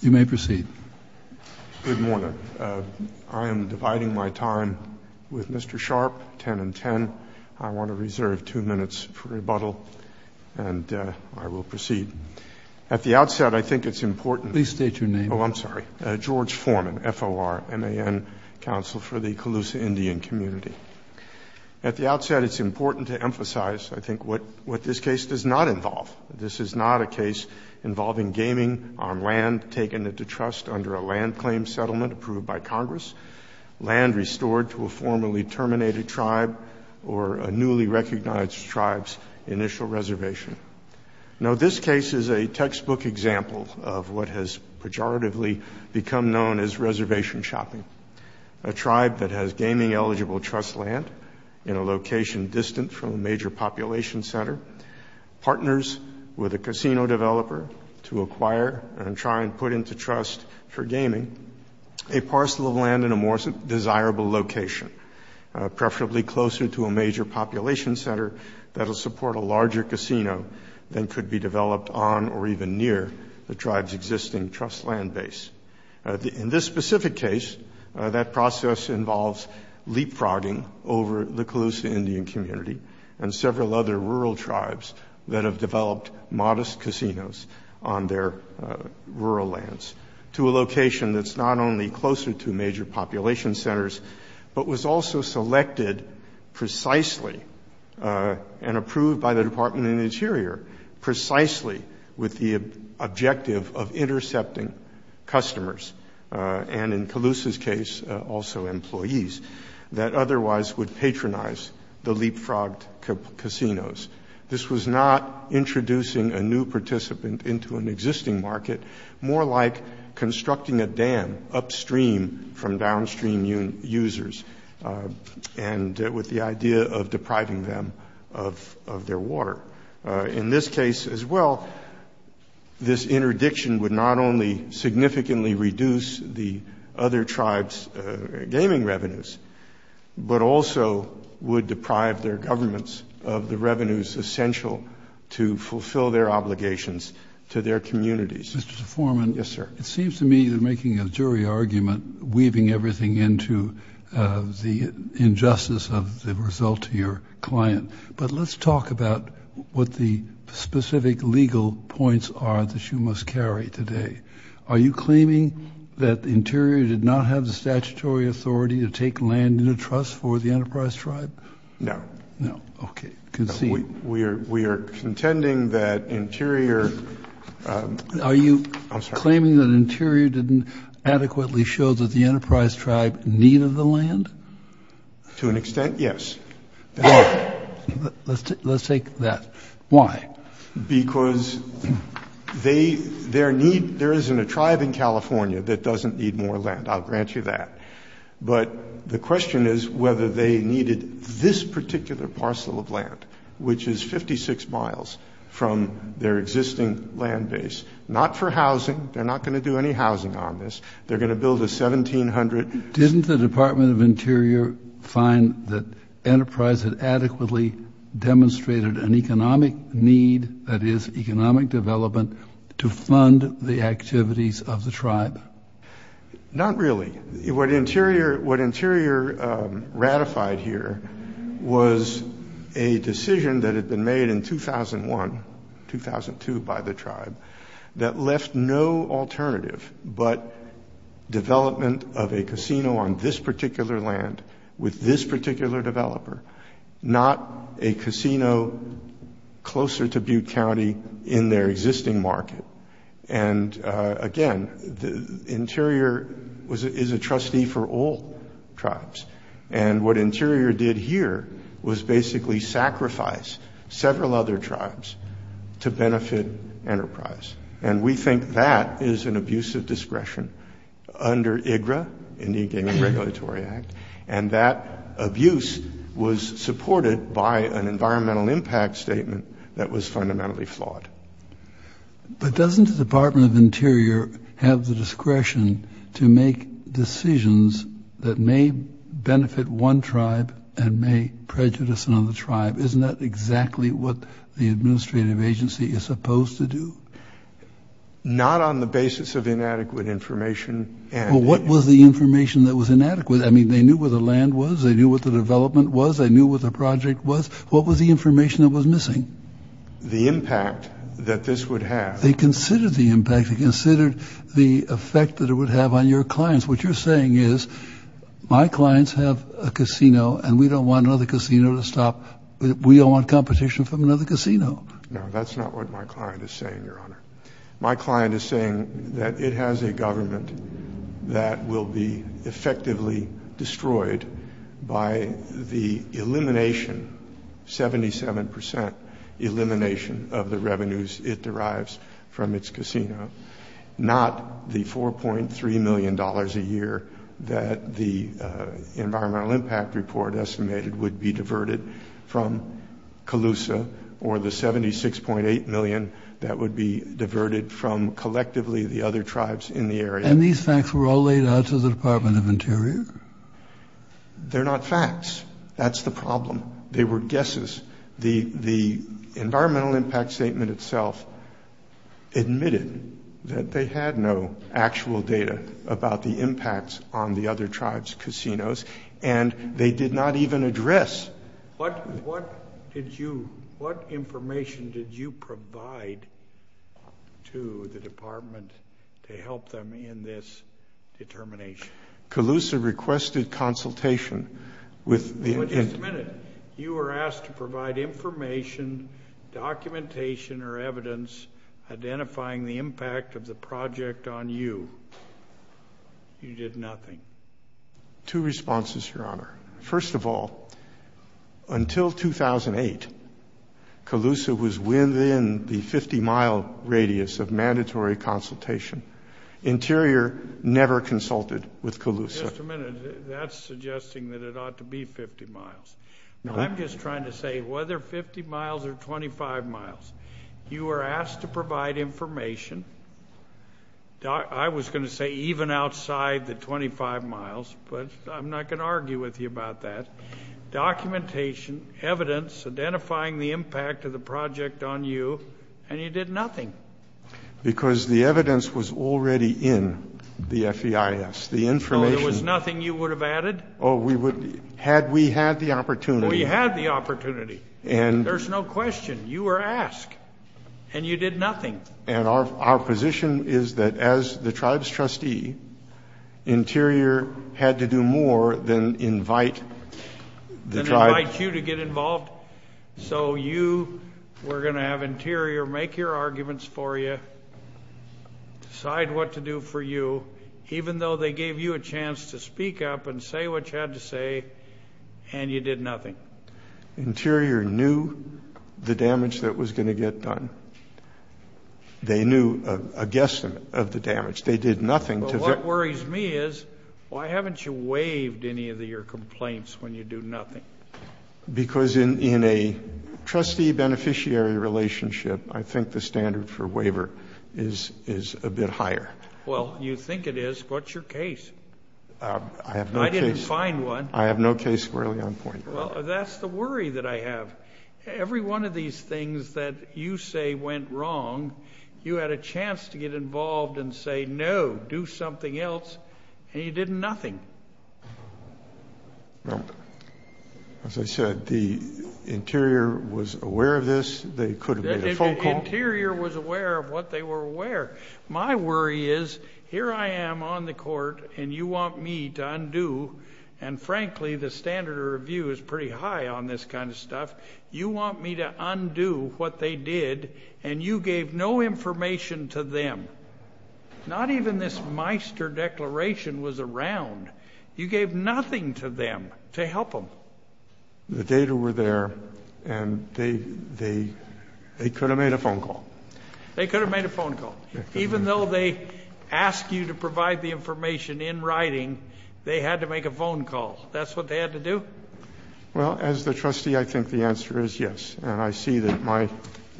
You may proceed. Good morning. I am dividing my time with Mr. Sharp, 10 and 10. I want to reserve two minutes for rebuttal, and I will proceed. At the outset, I think it's important— Please state your name. Oh, I'm sorry, George Forman, F-O-R-M-A-N, Counsel for the Calusa Indian Community. At the outset, it's important to emphasize, I think, what this case does not involve. This is not a case involving gaming on land taken into trust under a land claim settlement approved by Congress, land restored to a formerly terminated tribe, or a newly recognized tribe's initial reservation. Now, this case is a textbook example of what has pejoratively become known as reservation shopping. A tribe that has gaming-eligible trust land in a location distant from a major population center, partners with a casino developer to acquire and try and put into trust for gaming a parcel of land in a more desirable location, preferably closer to a major population center that will support a larger casino than could be developed on or even near the tribe's existing trust land base. In this specific case, that process involves leapfrogging over the Calusa Indian community and several other rural tribes that have developed modest casinos on their rural lands to a location that's not only closer to major population centers, but was also selected precisely and approved by the Department of the Interior precisely with the objective of intercepting customers and, in Calusa's case, also employees that otherwise would patronize the leapfrogged casinos. This was not introducing a new participant into an existing market, more like constructing a dam upstream from downstream users and with the idea of depriving them of their water. In this case as well, this interdiction would not only significantly reduce the other tribes' gaming revenues, but also would deprive their governments of the revenues essential to fulfill their obligations to their communities. Mr. Foreman, it seems to me you're making a jury argument, weaving everything into the injustice of the result to your client. But let's talk about what the specific legal points are that you must carry today. Are you claiming that the Interior did not have the statutory authority to take land in a trust for the Enterprise Tribe? No. No. Okay. Concede. We are contending that Interior- Are you claiming that Interior didn't adequately show that the Enterprise Tribe needed the land? To an extent, yes. Let's take that. Why? Because there isn't a tribe in California that doesn't need more land. I'll grant you that. But the question is whether they needed this particular parcel of land, which is 56 miles from their existing land base, not for housing. They're not going to do any housing on this. They're going to build a 1,700- Not really. What Interior ratified here was a decision that had been made in 2001-2002 by the tribe that left no alternative but development of a casino on this particular land with this particular developer, not a casino closer to Butte County in their existing market. And, again, Interior is a trustee for all tribes. And what Interior did here was basically sacrifice several other tribes to benefit Enterprise. And we think that is an abuse of discretion under IGRA, Indian Game and Regulatory Act, and that abuse was supported by an environmental impact statement that was fundamentally flawed. But doesn't the Department of Interior have the discretion to make decisions that may benefit one tribe and may prejudice another tribe? Isn't that exactly what the administrative agency is supposed to do? Not on the basis of inadequate information. Well, what was the information that was inadequate? I mean, they knew where the land was. They knew what the development was. They knew what the project was. What was the information that was missing? The impact that this would have. They considered the impact. They considered the effect that it would have on your clients. What you're saying is my clients have a casino and we don't want another casino to stop. We don't want competition from another casino. No, that's not what my client is saying, Your Honor. My client is saying that it has a government that will be effectively destroyed by the elimination, 77 percent elimination of the revenues it derives from its casino, not the $4.3 million a year that the environmental impact report estimated would be diverted from Calusa or the $76.8 million that would be diverted from collectively the other tribes in the area. And these facts were all laid out to the Department of Interior? They're not facts. That's the problem. They were guesses. The environmental impact statement itself admitted that they had no actual data about the impacts on the other tribes' casinos, and they did not even address. What information did you provide to the department to help them in this determination? Calusa requested consultation. Just a minute. You were asked to provide information, documentation, or evidence identifying the impact of the project on you. You did nothing. Two responses, Your Honor. First of all, until 2008, Calusa was within the 50-mile radius of mandatory consultation. Interior never consulted with Calusa. Just a minute. That's suggesting that it ought to be 50 miles. No, I'm just trying to say whether 50 miles or 25 miles. You were asked to provide information. I was going to say even outside the 25 miles, but I'm not going to argue with you about that. Documentation, evidence identifying the impact of the project on you, and you did nothing. Because the evidence was already in the FEIS. Yes, the information. So there was nothing you would have added? We had the opportunity. We had the opportunity. There's no question. You were asked, and you did nothing. And our position is that as the tribe's trustee, Interior had to do more than invite the tribe. Than invite you to get involved. So you were going to have Interior make your arguments for you, decide what to do for you, even though they gave you a chance to speak up and say what you had to say, and you did nothing. Interior knew the damage that was going to get done. They knew a guess of the damage. They did nothing. What worries me is why haven't you waived any of your complaints when you do nothing? Because in a trustee-beneficiary relationship, I think the standard for waiver is a bit higher. Well, you think it is. What's your case? I have no case. I didn't find one. I have no case squarely on point. Well, that's the worry that I have. Every one of these things that you say went wrong, you had a chance to get involved and say no, do something else, and you did nothing. Well, as I said, the Interior was aware of this. They could have made a phone call. The Interior was aware of what they were aware. My worry is here I am on the Court, and you want me to undo, and frankly, the standard of review is pretty high on this kind of stuff. You want me to undo what they did, and you gave no information to them. Not even this Meister Declaration was around. You gave nothing to them to help them. The data were there, and they could have made a phone call. They could have made a phone call. Even though they asked you to provide the information in writing, they had to make a phone call. That's what they had to do? Well, as the trustee, I think the answer is yes, and I see that my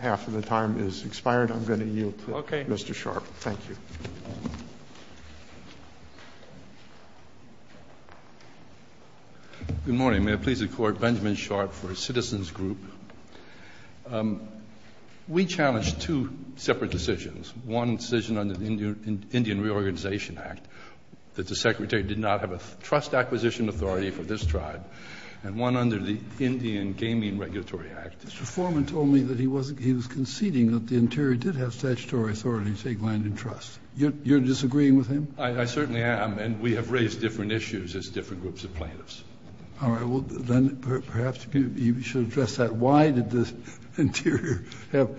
half of the time has expired. I'm going to yield to Mr. Sharpe. Thank you. Good morning. May it please the Court, Benjamin Sharpe for Citizens Group. We challenged two separate decisions. One decision under the Indian Reorganization Act that the Secretary did not have a trust acquisition authority for this tribe, and one under the Indian Gaming Regulatory Act. Mr. Foreman told me that he was conceding that the Interior did have statutory authority to take land in trust. You're disagreeing with him? I certainly am, and we have raised different issues as different groups of plaintiffs. All right. Well, then perhaps you should address that. Why did the Interior have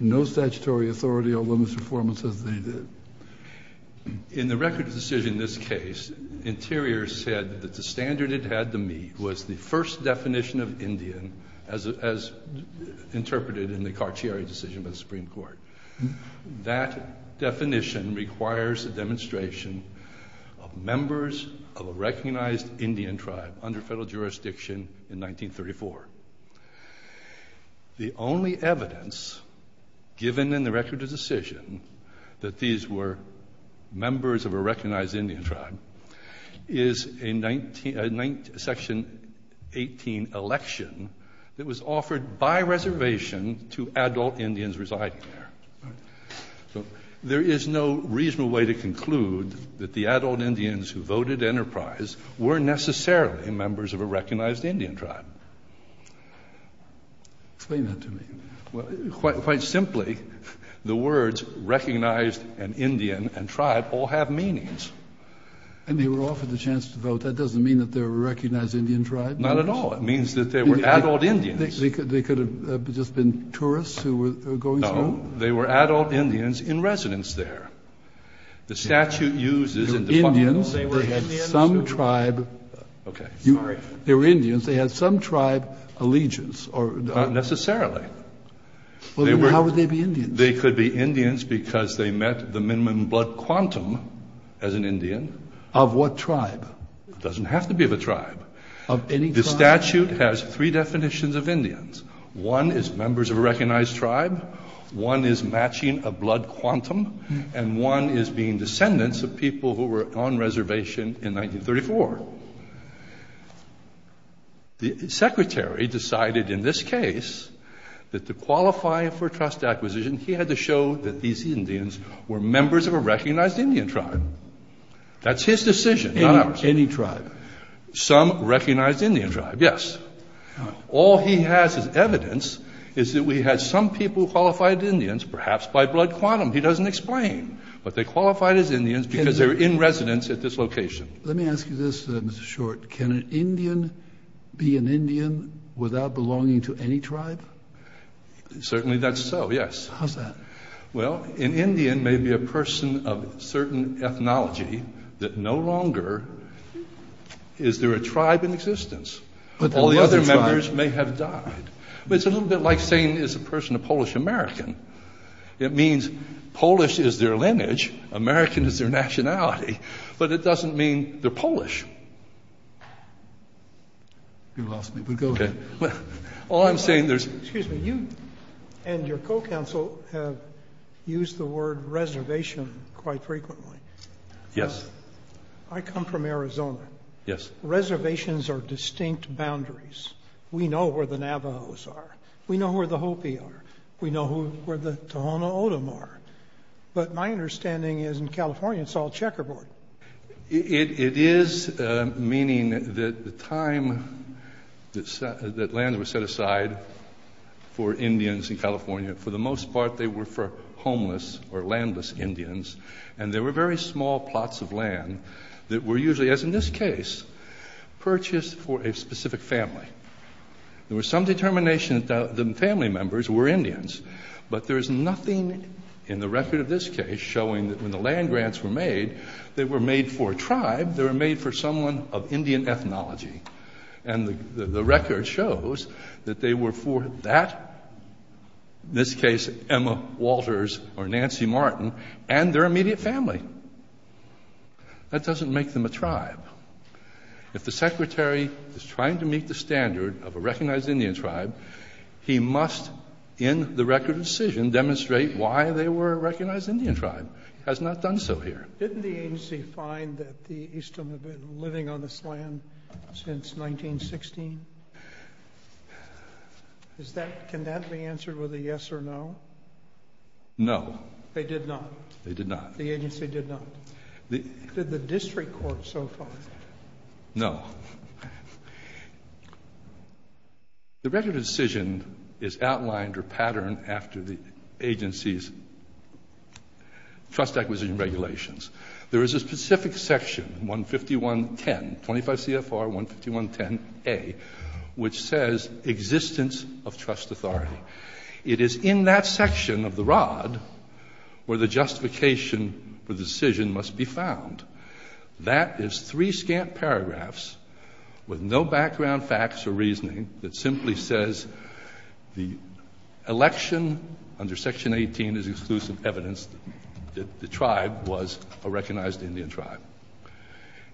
no statutory authority, although Mr. Foreman says they did? In the record decision in this case, Interior said that the standard it had to meet was the first definition of Indian, as interpreted in the Carcieri decision by the Supreme Court. That definition requires a demonstration of members of a recognized Indian tribe under federal jurisdiction in 1934. The only evidence given in the record decision that these were members of a recognized Indian tribe is a section 18 election that was offered by reservation to adult Indians residing there. All right. So there is no reasonable way to conclude that the adult Indians who voted enterprise were necessarily members of a recognized Indian tribe. Explain that to me. Well, quite simply, the words recognized and Indian and tribe all have meanings. And they were offered the chance to vote. That doesn't mean that they were a recognized Indian tribe. Not at all. It means that they were adult Indians. They could have just been tourists who were going through? No. They were adult Indians in residence there. The statute uses in defunct... They were Indians. They had some tribe... Okay. Sorry. They were Indians. They had some tribe allegiance or... Not necessarily. How would they be Indians? They could be Indians because they met the minimum blood quantum as an Indian. Of what tribe? It doesn't have to be of a tribe. Of any tribe? The statute has three definitions of Indians. One is members of a recognized tribe. One is matching a blood quantum. And one is being descendants of people who were on reservation in 1934. The secretary decided in this case that to qualify for trust acquisition, he had to show that these Indians were members of a recognized Indian tribe. That's his decision, not ours. Any tribe? Some recognized Indian tribe, yes. All he has as evidence is that we had some people qualified Indians perhaps by blood quantum. He doesn't explain. But they qualified as Indians because they were in residence at this location. Let me ask you this, Mr. Short. Can an Indian be an Indian without belonging to any tribe? Certainly that's so, yes. How's that? Well, an Indian may be a person of certain ethnology that no longer is there a tribe in existence. But all the other members may have died. But it's a little bit like saying is a person a Polish-American. It means Polish is their lineage, American is their nationality, but it doesn't mean they're Polish. You lost me, but go ahead. Excuse me. You and your co-counsel have used the word reservation quite frequently. Yes. I come from Arizona. Yes. Reservations are distinct boundaries. We know where the Navajos are. We know where the Hopi are. We know where the Tohono O'odham are. But my understanding is in California it's all checkerboard. It is meaning that the time that land was set aside for Indians in California, for the most part they were for homeless or landless Indians. And there were very small plots of land that were usually, as in this case, purchased for a specific family. There was some determination that the family members were Indians, but there is nothing in the record of this case showing that when the land grants were made, they were made for a tribe. They were made for someone of Indian ethnology. And the record shows that they were for that, in this case Emma Walters or Nancy Martin, and their immediate family. If the Secretary is trying to meet the standard of a recognized Indian tribe, he must, in the record of decision, demonstrate why they were a recognized Indian tribe. He has not done so here. Didn't the agency find that the Eastham have been living on this land since 1916? Can that be answered with a yes or no? No. They did not. They did not. The agency did not. Did the district court so far? No. The record of decision is outlined or patterned after the agency's trust acquisition regulations. There is a specific section, 151.10, 25 CFR 151.10a, which says existence of trust authority. It is in that section of the rod where the justification for the decision must be found. That is three scant paragraphs with no background facts or reasoning that simply says the election under Section 18 is exclusive evidence that the tribe was a recognized Indian tribe.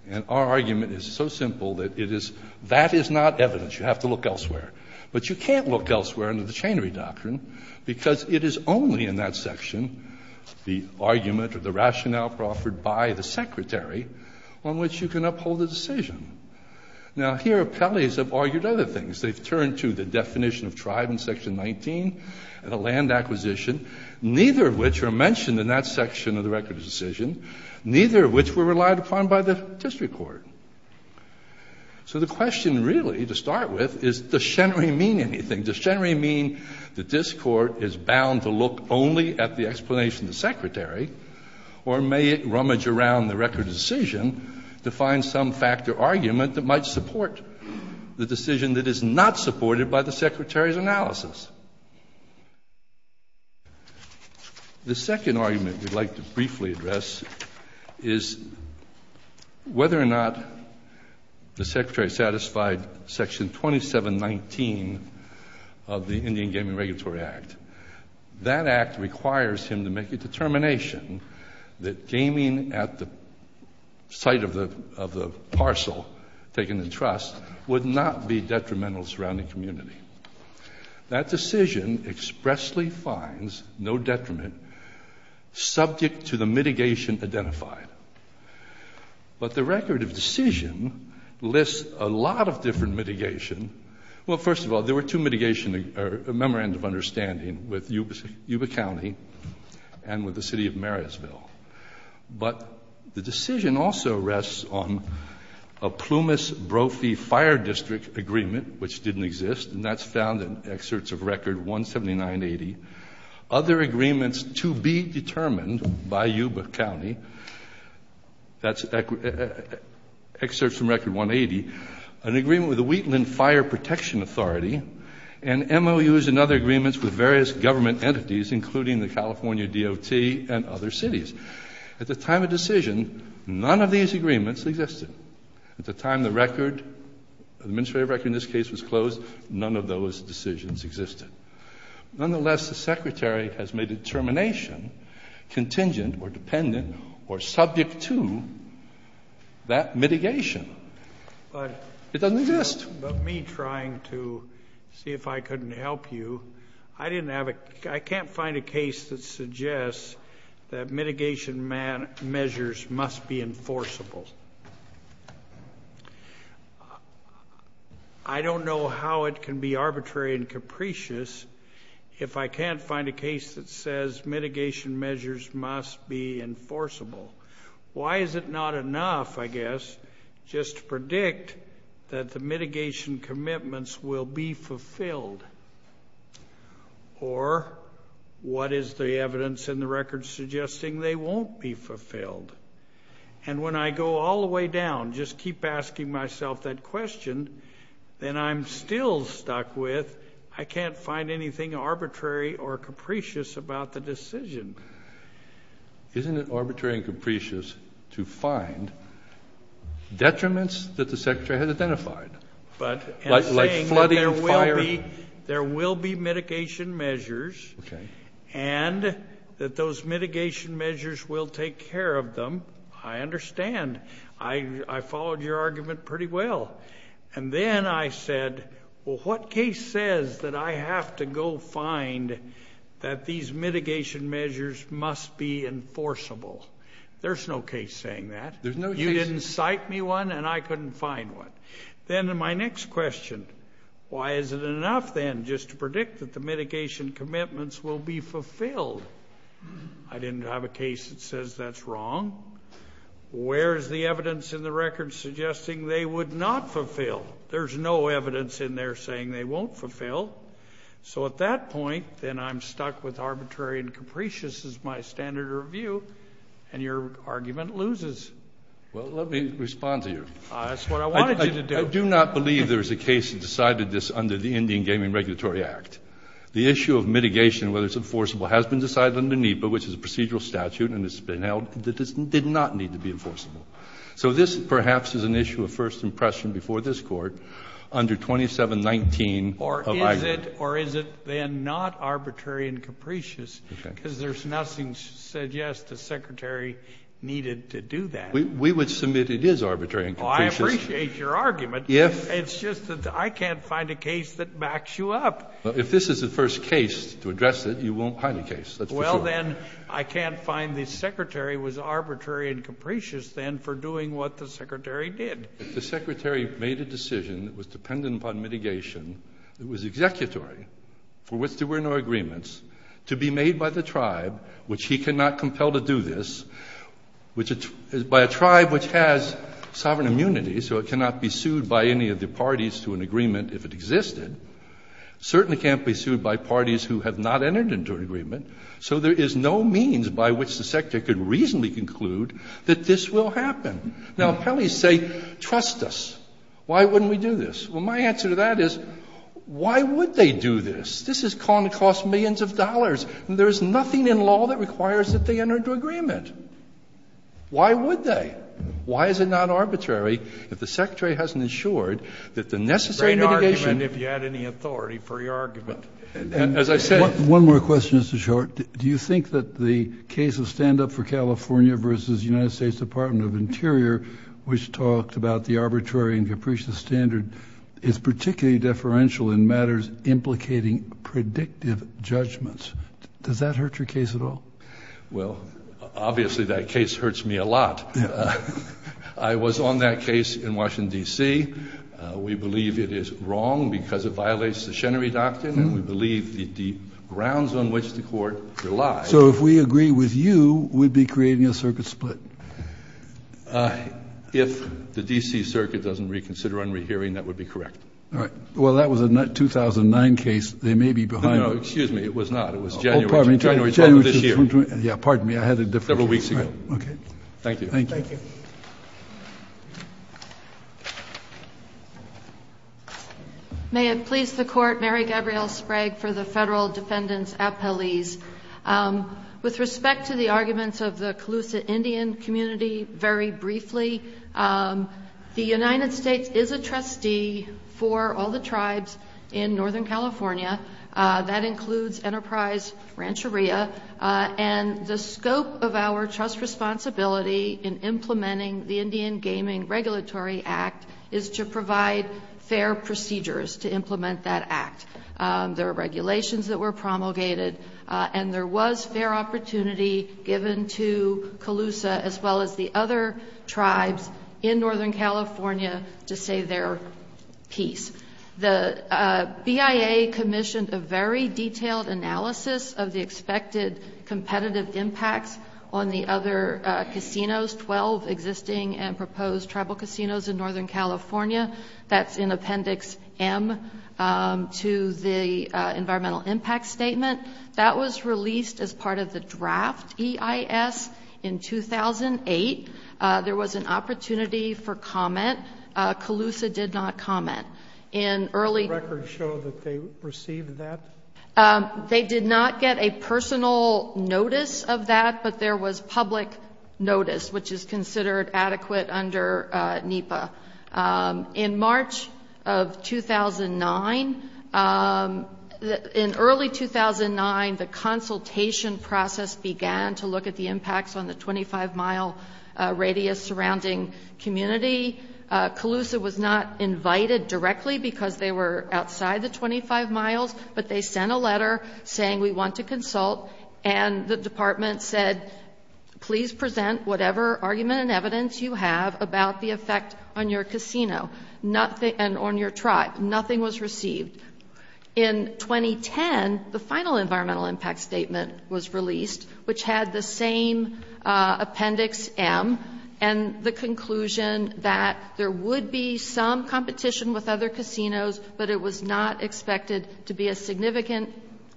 And our argument is so simple that it is that is not evidence. You have to look elsewhere. But you can't look elsewhere under the chain reduction because it is only in that section, the argument or the rationale offered by the secretary, on which you can uphold the decision. Now, here, appellees have argued other things. They've turned to the definition of tribe in Section 19 and the land acquisition, neither of which are mentioned in that section of the record of decision, neither of which were relied upon by the district court. So the question really, to start with, is does Shenry mean anything? Does Shenry mean the district court is bound to look only at the explanation of the secretary or may it rummage around the record of decision to find some fact or argument that might support the decision that is not supported by the secretary's analysis? The second argument we'd like to briefly address is whether or not the secretary satisfied Section 2719 of the Indian Gaming Regulatory Act. That act requires him to make a determination that gaming at the site of the parcel taken in trust would not be detrimental to the surrounding community. That decision expressly finds no detriment subject to the mitigation identified. But the record of decision lists a lot of different mitigation. Well, first of all, there were two mitigations or memorandums of understanding with Yuba County and with the City of Marysville. But the decision also rests on a Plumas-Brophy Fire District agreement, which didn't exist, and that's found in excerpts of Record 17980. Other agreements to be determined by Yuba County, that's excerpts from Record 180, an agreement with the Wheatland Fire Protection Authority, and MOUs and other agreements with various government entities, including the California DOT and other cities. At the time of decision, none of these agreements existed. At the time the record, the administrative record in this case was closed, none of those decisions existed. Nonetheless, the secretary has made a determination contingent or dependent or subject to that mitigation. It doesn't exist. But me trying to see if I couldn't help you, I didn't have a – I don't know how it can be arbitrary and capricious if I can't find a case that says mitigation measures must be enforceable. Why is it not enough, I guess, just to predict that the mitigation commitments will be fulfilled? Or what is the evidence in the record suggesting they won't be fulfilled? And when I go all the way down, just keep asking myself that question, then I'm still stuck with I can't find anything arbitrary or capricious about the decision. Isn't it arbitrary and capricious to find detriments that the secretary has identified? But in saying that there will be mitigation measures and that those mitigation measures will take care of them, I understand. I followed your argument pretty well. And then I said, well, what case says that I have to go find that these mitigation measures must be enforceable? There's no case saying that. You didn't cite me one, and I couldn't find one. Then my next question, why is it enough, then, just to predict that the mitigation commitments will be fulfilled? I didn't have a case that says that's wrong. Where is the evidence in the record suggesting they would not fulfill? There's no evidence in there saying they won't fulfill. So at that point, then I'm stuck with arbitrary and capricious is my standard of view, and your argument loses. Well, let me respond to you. That's what I wanted you to do. I do not believe there is a case that decided this under the Indian Gaming Regulatory Act. The issue of mitigation, whether it's enforceable, has been decided under NEPA, which is a procedural statute, and it's been held that this did not need to be enforceable. So this, perhaps, is an issue of first impression before this Court under 2719 of IGRA. Or is it, then, not arbitrary and capricious because there's nothing suggests the secretary needed to do that? We would submit it is arbitrary and capricious. Oh, I appreciate your argument. It's just that I can't find a case that backs you up. If this is the first case to address it, you won't find a case. That's for sure. Well, then, I can't find the secretary was arbitrary and capricious, then, for doing what the secretary did. If the secretary made a decision that was dependent upon mitigation, it was executory for which there were no agreements to be made by the tribe, which he cannot compel to do this, by a tribe which has sovereign immunity, so it cannot be sued by any of the parties to an agreement if it existed. It certainly can't be sued by parties who have not entered into an agreement. So there is no means by which the secretary could reasonably conclude that this will happen. Now, appellees say, trust us. Why wouldn't we do this? Well, my answer to that is, why would they do this? This is going to cost millions of dollars. There is nothing in law that requires that they enter into agreement. Why would they? Why is it not arbitrary if the secretary hasn't ensured that the necessary mitigation Great argument, if you had any authority for your argument. As I said One more question, Mr. Short. Do you think that the case of stand-up for California versus the United States Department of Interior, which talked about the arbitrary and capricious standard, is particularly deferential in matters implicating predictive judgments? Does that hurt your case at all? Well, obviously that case hurts me a lot. I was on that case in Washington, D.C. We believe it is wrong because it violates the Chenery Doctrine, and we believe the grounds on which the court relies So if we agree with you, we'd be creating a circuit split. If the D.C. Circuit doesn't reconsider unrehearing, that would be correct. All right. Well, that was a 2009 case. They may be behind. No, excuse me. It was not. It was January. Oh, pardon me. January. This year. Yeah, pardon me. I had a different. Several weeks ago. Okay. Thank you. Thank you. May it please the Court. Mary Gabrielle Sprague for the Federal Defendant's Appellees. With respect to the arguments of the Calusa Indian community, very briefly, the United States is a trustee for all the tribes in Northern California. That includes Enterprise Rancheria, and the scope of our trust responsibility in implementing the Indian Gaming Regulatory Act is to provide fair procedures to implement that act. There are regulations that were promulgated, and there was fair opportunity given to Calusa, as well as the other tribes in Northern California, to say their piece. The BIA commissioned a very detailed analysis of the expected competitive impacts on the other casinos, 12 existing and proposed tribal casinos in Northern California. That's in Appendix M to the Environmental Impact Statement. That was released as part of the draft EIS in 2008. There was an opportunity for comment. Calusa did not comment. And early records show that they received that. They did not get a personal notice of that, but there was public notice, which is considered adequate under NEPA. In March of 2009, in early 2009, the consultation process began to look at the impacts on the 25-mile radius surrounding community. Calusa was not invited directly because they were outside the 25 miles, but they sent a letter saying, we want to consult, and the department said, please present whatever argument and evidence you have about the effect on your casino and on your tribe. Nothing was received. In 2010, the final Environmental Impact Statement was released, which had the same Appendix M and the conclusion that there would be some competition with other casinos, but it was not expected to be a significant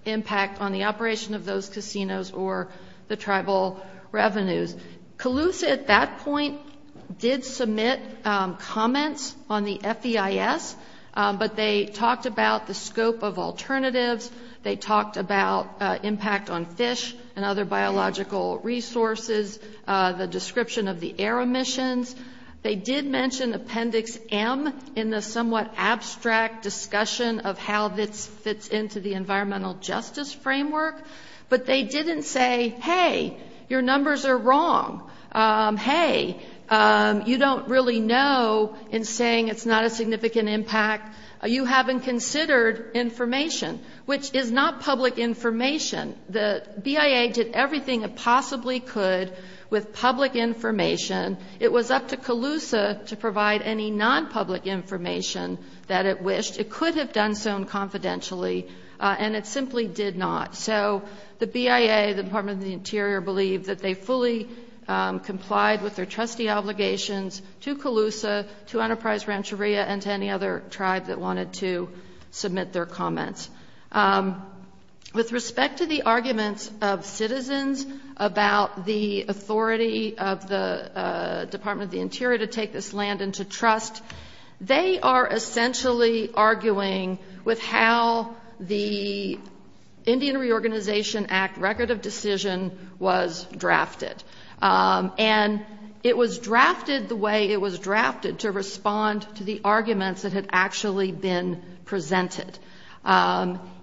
impact on the operation of those casinos or the tribal revenues. Calusa at that point did submit comments on the FEIS, but they talked about the scope of alternatives. They talked about impact on fish and other biological resources, the description of the air emissions. They did mention Appendix M in the somewhat abstract discussion of how this fits into the environmental justice framework, but they didn't say, hey, your numbers are wrong. Hey, you don't really know in saying it's not a significant impact. You haven't considered information, which is not public information. The BIA did everything it possibly could with public information. It was up to Calusa to provide any non-public information that it wished. It could have done so confidentially, and it simply did not. So the BIA, the Department of the Interior, believed that they fully complied with their trustee obligations to Calusa, to Enterprise Rancheria, and to any other tribe that wanted to submit their comments. With respect to the arguments of citizens about the authority of the Department of the Interior to take this land into trust, they are essentially arguing with how the Indian Reorganization Act Record of Decision was drafted. And it was drafted the way it was drafted, to respond to the arguments that had actually been presented.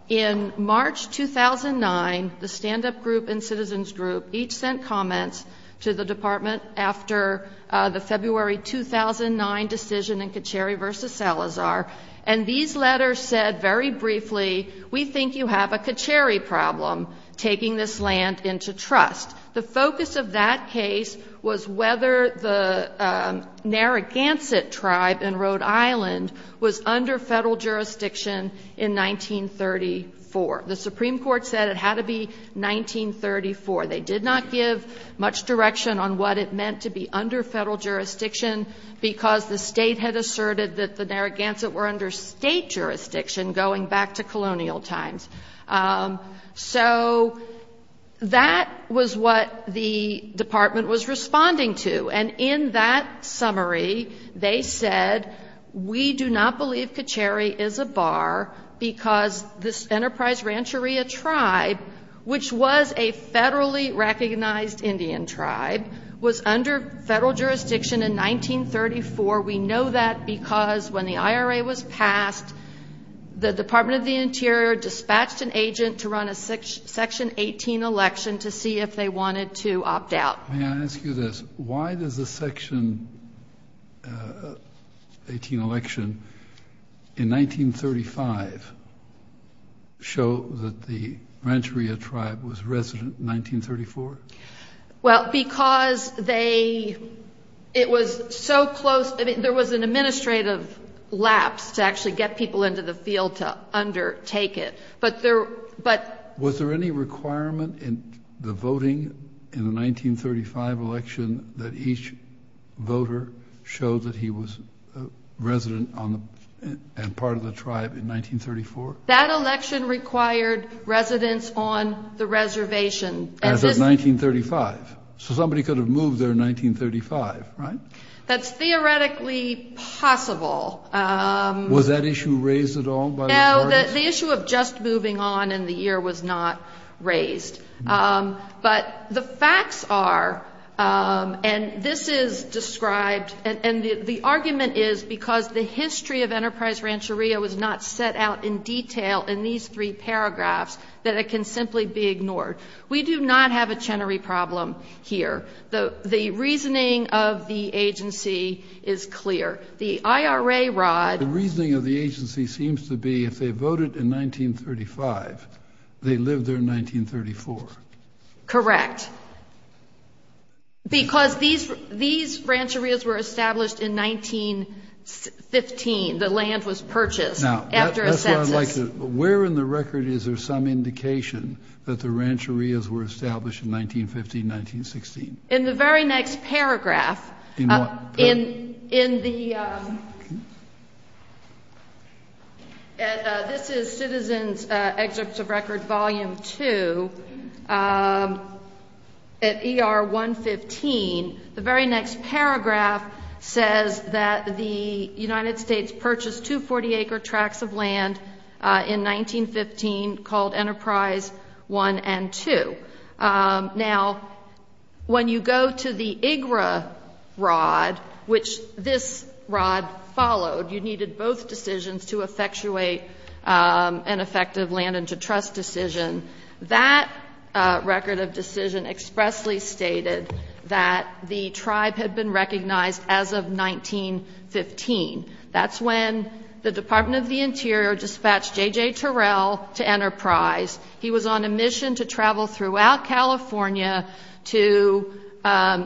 In March 2009, the stand-up group and citizens group each sent comments to the department after the February 2009 decision in Kacheri v. Salazar, and these letters said very briefly, we think you have a Kacheri problem taking this land into trust. The focus of that case was whether the Narragansett tribe in Rhode Island was under federal jurisdiction in 1934. The Supreme Court said it had to be 1934. They did not give much direction on what it meant to be under federal jurisdiction, because the state had asserted that the Narragansett were under state jurisdiction going back to colonial times. So that was what the department was responding to. And in that summary, they said, we do not believe Kacheri is a bar because this Enterprise Rancheria tribe, which was a federally recognized Indian tribe, was under federal jurisdiction in 1934. We know that because when the IRA was passed, the Department of the Interior dispatched an agent to run a Section 18 election to see if they wanted to opt out. May I ask you this? Why does the Section 18 election in 1935 show that the Rancheria tribe was resident in 1934? Well, because there was an administrative lapse to actually get people into the field to undertake it. Was there any requirement in the voting in the 1935 election that each voter showed that he was a resident and part of the tribe in 1934? That election required residents on the reservation. As of 1935. So somebody could have moved there in 1935, right? That's theoretically possible. Was that issue raised at all? No, the issue of just moving on in the year was not raised. But the facts are, and this is described, and the argument is because the history of Enterprise Rancheria was not set out in detail in these three paragraphs, that it can simply be ignored. We do not have a Chenery problem here. The reasoning of the agency is clear. The IRA Rod. The reasoning of the agency seems to be if they voted in 1935, they lived there in 1934. Correct. Because these Rancherias were established in 1915. The land was purchased after a census. Where in the record is there some indication that the Rancherias were established in 1915, 1916? In the very next paragraph. In what paragraph? This is Citizens' Excerpts of Record Volume 2 at ER 115. The very next paragraph says that the United States purchased two 40-acre tracts of land in 1915 called Enterprise 1 and 2. Now, when you go to the IGRA Rod, which this Rod followed, you needed both decisions to effectuate an effective land-into-trust decision. That record of decision expressly stated that the tribe had been recognized as of 1915. That's when the Department of the Interior dispatched J.J. Terrell to Enterprise. He was on a mission to travel throughout California to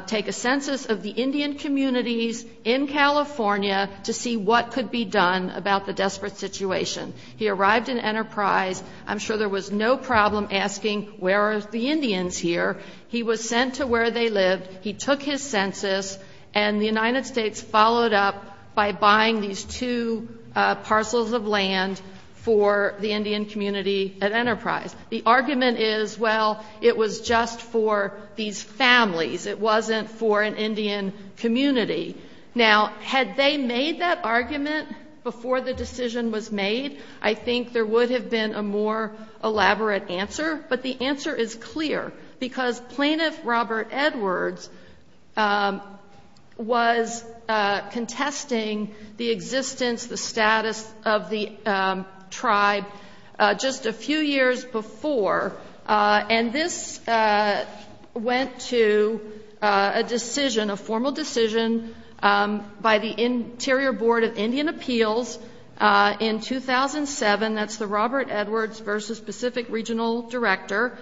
take a census of the Indian communities in California to see what could be done about the desperate situation. He arrived in Enterprise. I'm sure there was no problem asking where are the Indians here. He was sent to where they lived. He took his census, and the United States followed up by buying these two parcels of land for the Indian community at Enterprise. The argument is, well, it was just for these families. It wasn't for an Indian community. Now, had they made that argument before the decision was made, I think there would have been a more elaborate answer. But the answer is clear, because plaintiff Robert Edwards was contesting the existence, the status of the tribe just a few years before. And this went to a decision, a formal decision, by the Interior Board of Indian Appeals in 2007. That's the Robert Edwards v. Pacific Regional Director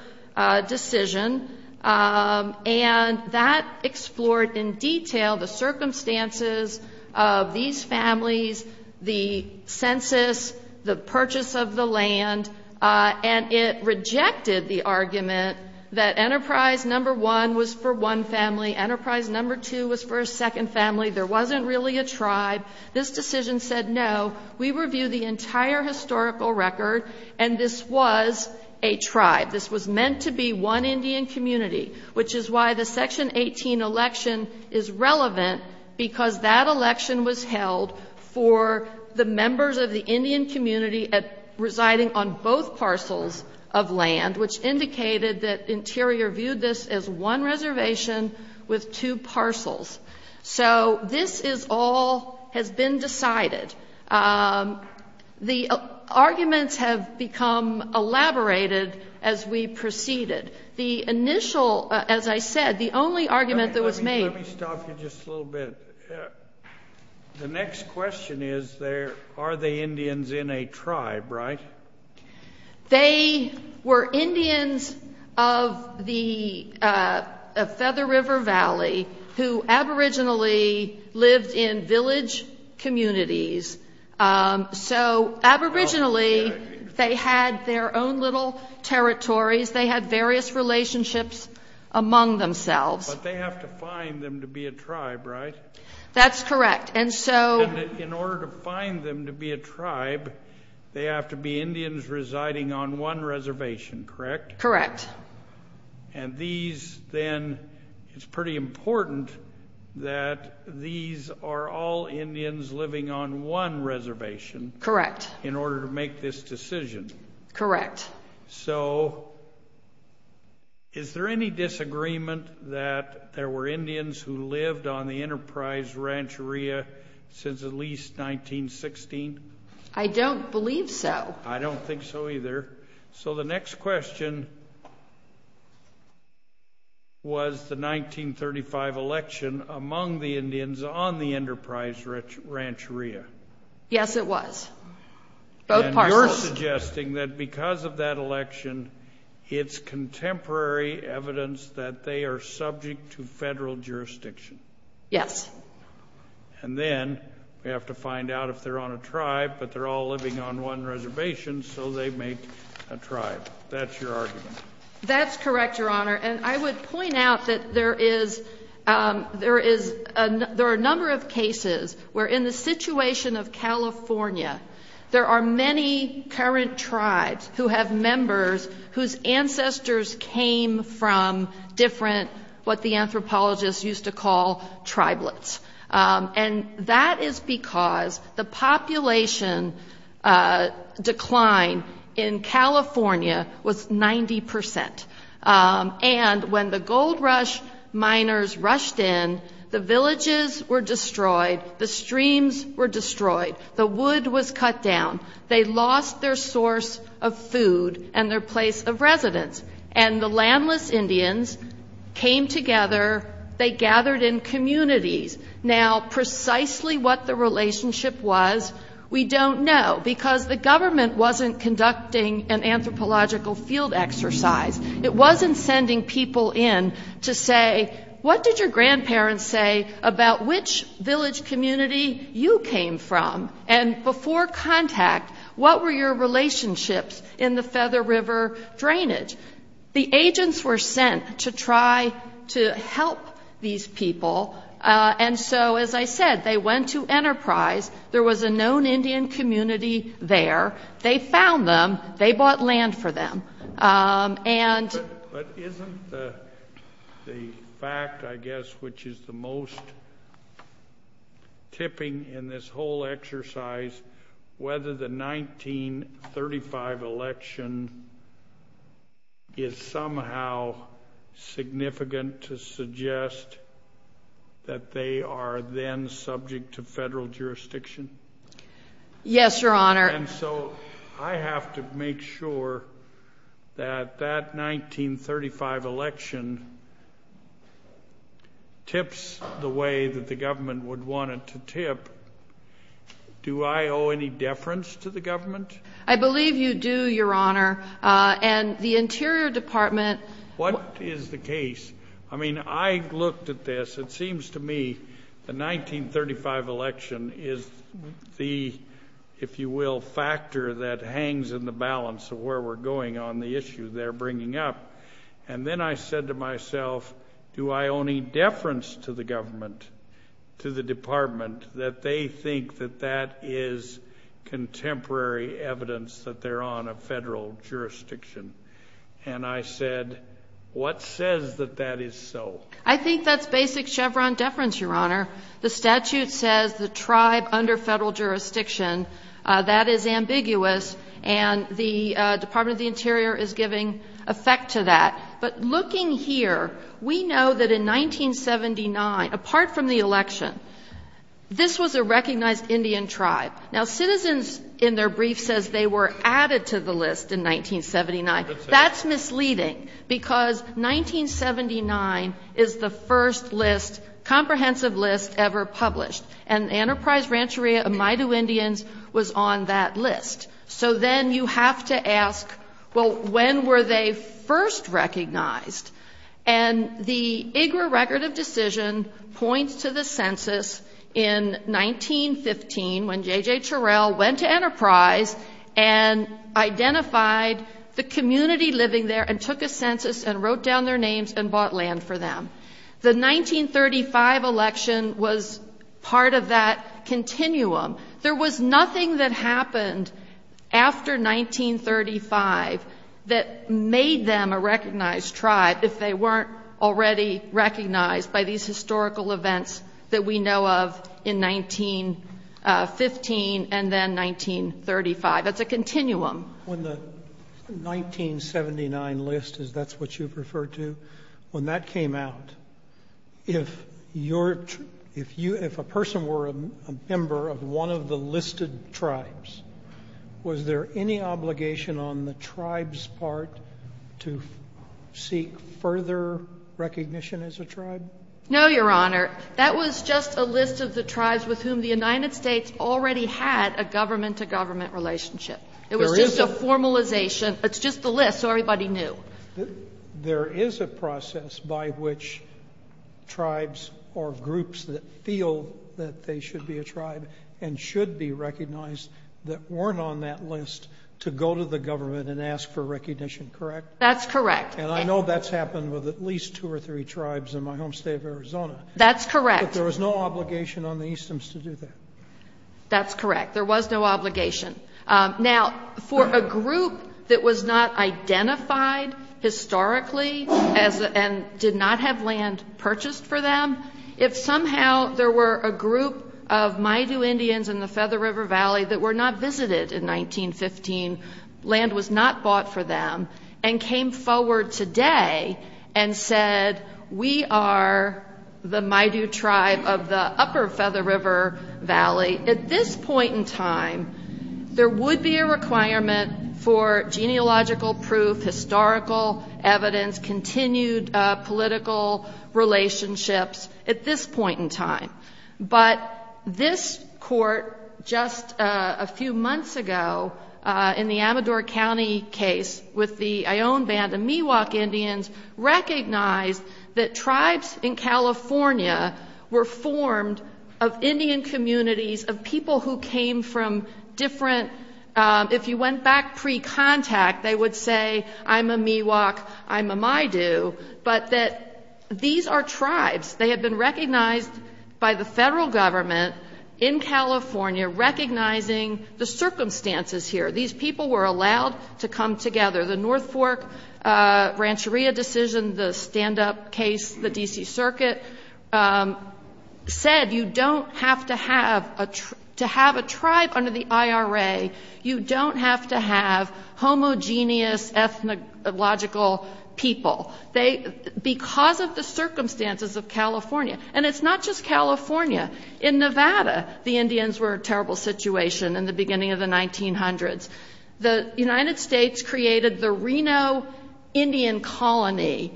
decision. And that explored in detail the circumstances of these families, the census, the purchase of the land, and it rejected the argument that Enterprise No. 1 was for one family, Enterprise No. 2 was for a second family, there wasn't really a tribe. This decision said, no, we review the entire historical record, and this was a tribe. This was meant to be one Indian community, which is why the Section 18 election is relevant, because that election was held for the members of the Indian community residing on both parcels of land, which indicated that Interior viewed this as one reservation with two parcels. So this is all has been decided. The arguments have become elaborated as we proceeded. The initial, as I said, the only argument that was made. Let me stop you just a little bit. The next question is, are the Indians in a tribe, right? They were Indians of the Feather River Valley who aboriginally lived in village communities. So aboriginally they had their own little territories. They had various relationships among themselves. But they have to find them to be a tribe, right? That's correct. In order to find them to be a tribe, they have to be Indians residing on one reservation, correct? Correct. And these then, it's pretty important that these are all Indians living on one reservation. Correct. In order to make this decision. Correct. So is there any disagreement that there were Indians who lived on the Enterprise Rancheria since at least 1916? I don't believe so. I don't think so either. So the next question was the 1935 election among the Indians on the Enterprise Rancheria. Yes, it was. Both parcels. So you're suggesting that because of that election, it's contemporary evidence that they are subject to federal jurisdiction. Yes. And then we have to find out if they're on a tribe, but they're all living on one reservation, so they make a tribe. That's your argument. That's correct, Your Honor. And I would point out that there are a number of cases where in the situation of California, there are many current tribes who have members whose ancestors came from different, what the anthropologists used to call, tribelets. And that is because the population decline in California was 90%. And when the gold rush miners rushed in, the villages were destroyed. The streams were destroyed. The wood was cut down. They lost their source of food and their place of residence. And the landless Indians came together. They gathered in communities. Now, precisely what the relationship was, we don't know, because the government wasn't conducting an anthropological field exercise. It wasn't sending people in to say, what did your grandparents say about which village community you came from? And before contact, what were your relationships in the Feather River drainage? The agents were sent to try to help these people. And so, as I said, they went to Enterprise. There was a known Indian community there. They bought land for them. But isn't the fact, I guess, which is the most tipping in this whole exercise, whether the 1935 election is somehow significant to suggest that they are then subject to federal jurisdiction? Yes, Your Honor. And so I have to make sure that that 1935 election tips the way that the government would want it to tip. Do I owe any deference to the government? I believe you do, Your Honor. And the Interior Department— What is the case? I mean, I looked at this. It seems to me the 1935 election is the, if you will, factor that hangs in the balance of where we're going on the issue they're bringing up. And then I said to myself, do I owe any deference to the government, to the department, that they think that that is contemporary evidence that they're on a federal jurisdiction? And I said, what says that that is so? I think that's basic Chevron deference, Your Honor. The statute says the tribe under federal jurisdiction. That is ambiguous. And the Department of the Interior is giving effect to that. But looking here, we know that in 1979, apart from the election, this was a recognized Indian tribe. Now, Citizens in their brief says they were added to the list in 1979. That's misleading, because 1979 is the first list, comprehensive list, ever published. And the Enterprise Rancheria of Maidu Indians was on that list. So then you have to ask, well, when were they first recognized? And the IGRA Record of Decision points to the census in 1915, when J.J. Terrell went to Enterprise and identified the community living there and took a census and wrote down their names and bought land for them. The 1935 election was part of that continuum. There was nothing that happened after 1935 that made them a recognized tribe if they weren't already recognized by these historical events that we know of in 1915 and then 1935. That's a continuum. When the 1979 list, as that's what you referred to, when that came out, if a person were a member of one of the listed tribes, was there any obligation on the tribe's part to seek further recognition as a tribe? No, Your Honor. That was just a list of the tribes with whom the United States already had a government-to-government relationship. It was just a formalization. It's just the list, so everybody knew. There is a process by which tribes or groups that feel that they should be a tribe and should be recognized that weren't on that list to go to the government and ask for recognition, correct? That's correct. And I know that's happened with at least two or three tribes in my home state of Arizona. That's correct. But there was no obligation on the Eastoms to do that. That's correct. There was no obligation. Now, for a group that was not identified historically and did not have land purchased for them, if somehow there were a group of Maidu Indians in the Feather River Valley that were not visited in 1915, land was not bought for them, and came forward today and said, we are the Maidu tribe of the upper Feather River Valley, at this point in time there would be a requirement for genealogical proof, historical evidence, continued political relationships at this point in time. But this court just a few months ago in the Amador County case with the Ion Band of Miwok Indians recognized that tribes in California were formed of Indian communities, of people who came from different, if you went back pre-contact, they would say, I'm a Miwok, I'm a Maidu, but that these are tribes. They have been recognized by the federal government in California, recognizing the circumstances here. These people were allowed to come together. The North Fork Rancheria decision, the stand-up case, the D.C. Circuit, said you don't have to have a tribe under the IRA, you don't have to have homogeneous ethnological people, because of the circumstances of California. And it's not just California. In Nevada, the Indians were a terrible situation in the beginning of the 1900s. The United States created the Reno Indian Colony.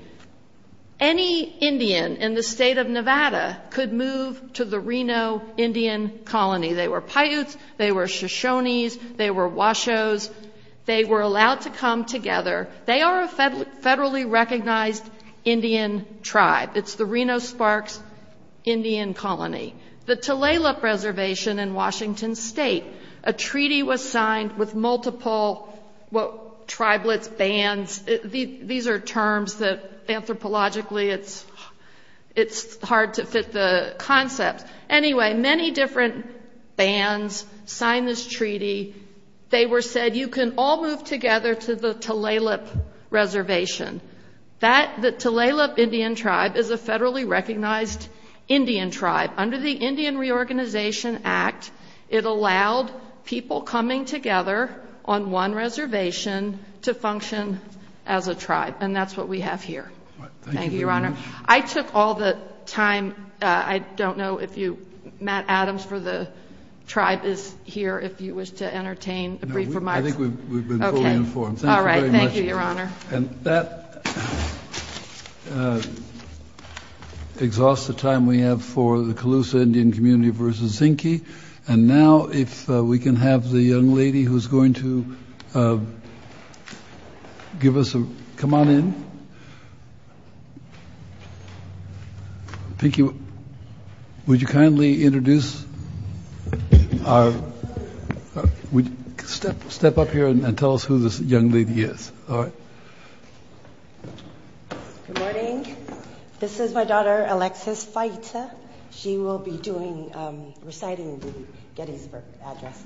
Any Indian in the state of Nevada could move to the Reno Indian Colony. They were Paiutes, they were Shoshones, they were Washos. They were allowed to come together. They are a federally recognized Indian tribe. It's the Reno Sparks Indian Colony. The Tulalip Reservation in Washington State, a treaty was signed with multiple tribalist bands. These are terms that anthropologically it's hard to fit the concept. Anyway, many different bands signed this treaty. They were said, you can all move together to the Tulalip Reservation. The Tulalip Indian tribe is a federally recognized Indian tribe. Under the Indian Reorganization Act, it allowed people coming together on one reservation to function as a tribe, Thank you, Your Honor. I took all the time. I don't know if Matt Adams for the tribe is here, if you wish to entertain a brief remark. I think we've been fully informed. All right. Thank you, Your Honor. And that exhausts the time we have for the Colusa Indian Community versus Zinke. And now if we can have the young lady who's going to give us a. Come on in. Thank you. Would you kindly introduce our. Step up here and tell us who this young lady is. All right. Good morning. This is my daughter, Alexis. She will be doing reciting the Gettysburg Address.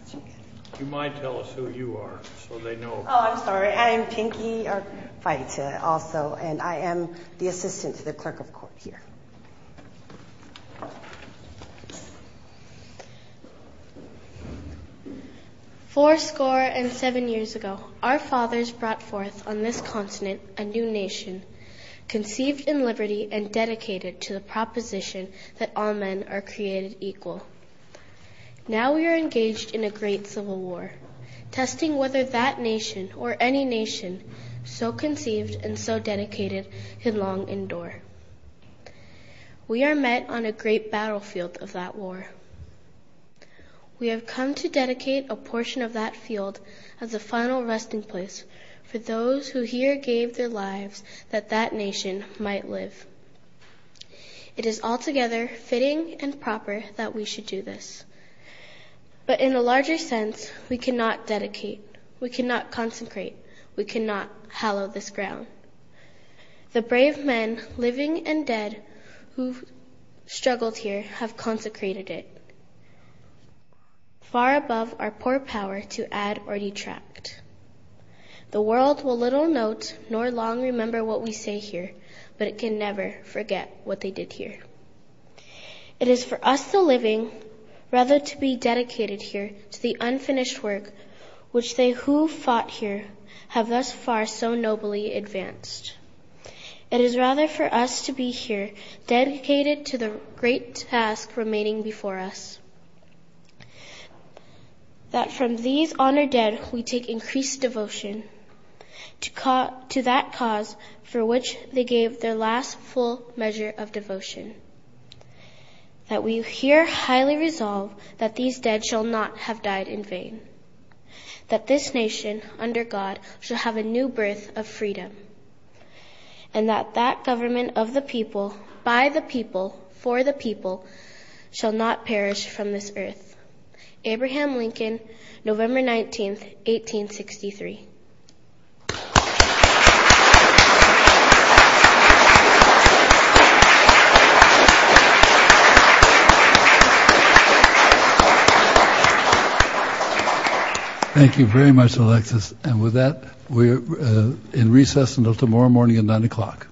You might tell us who you are. So they know. Oh, I'm sorry. I am Pinky. Also, and I am the assistant to the clerk of court here. Four score and seven years ago, our fathers brought forth on this continent, a new nation conceived in liberty and dedicated to the proposition that all men are created equal. Now we are engaged in a great civil war testing whether that nation or any nation so conceived and so dedicated could long endure. We are met on a great battlefield of that war. We have come to dedicate a portion of that field as a final resting place for those who here gave their lives that that nation might live. It is altogether fitting and proper that we should do this. But in a larger sense, we cannot dedicate. We cannot consecrate. We cannot hallow this ground. The brave men, living and dead, who've struggled here, have consecrated it. Far above our poor power to add or detract. The world will little note nor long remember what we say here, but it can never forget what they did here. It is for us, the living, rather to be dedicated here to the unfinished work, which they who fought here have thus far so nobly advanced. It is rather for us to be here, dedicated to the great task remaining before us. That from these honored dead, we take increased devotion to that cause for which they gave their last full measure of devotion. That we here highly resolve that these dead shall not have died in vain. That this nation, under God, shall have a new birth of freedom. And that that government of the people, by the people, for the people, shall not perish from this earth. Abraham Lincoln, November 19th, 1863. Thank you very much, Alexis. And with that, we're in recess until tomorrow morning at 9 o'clock.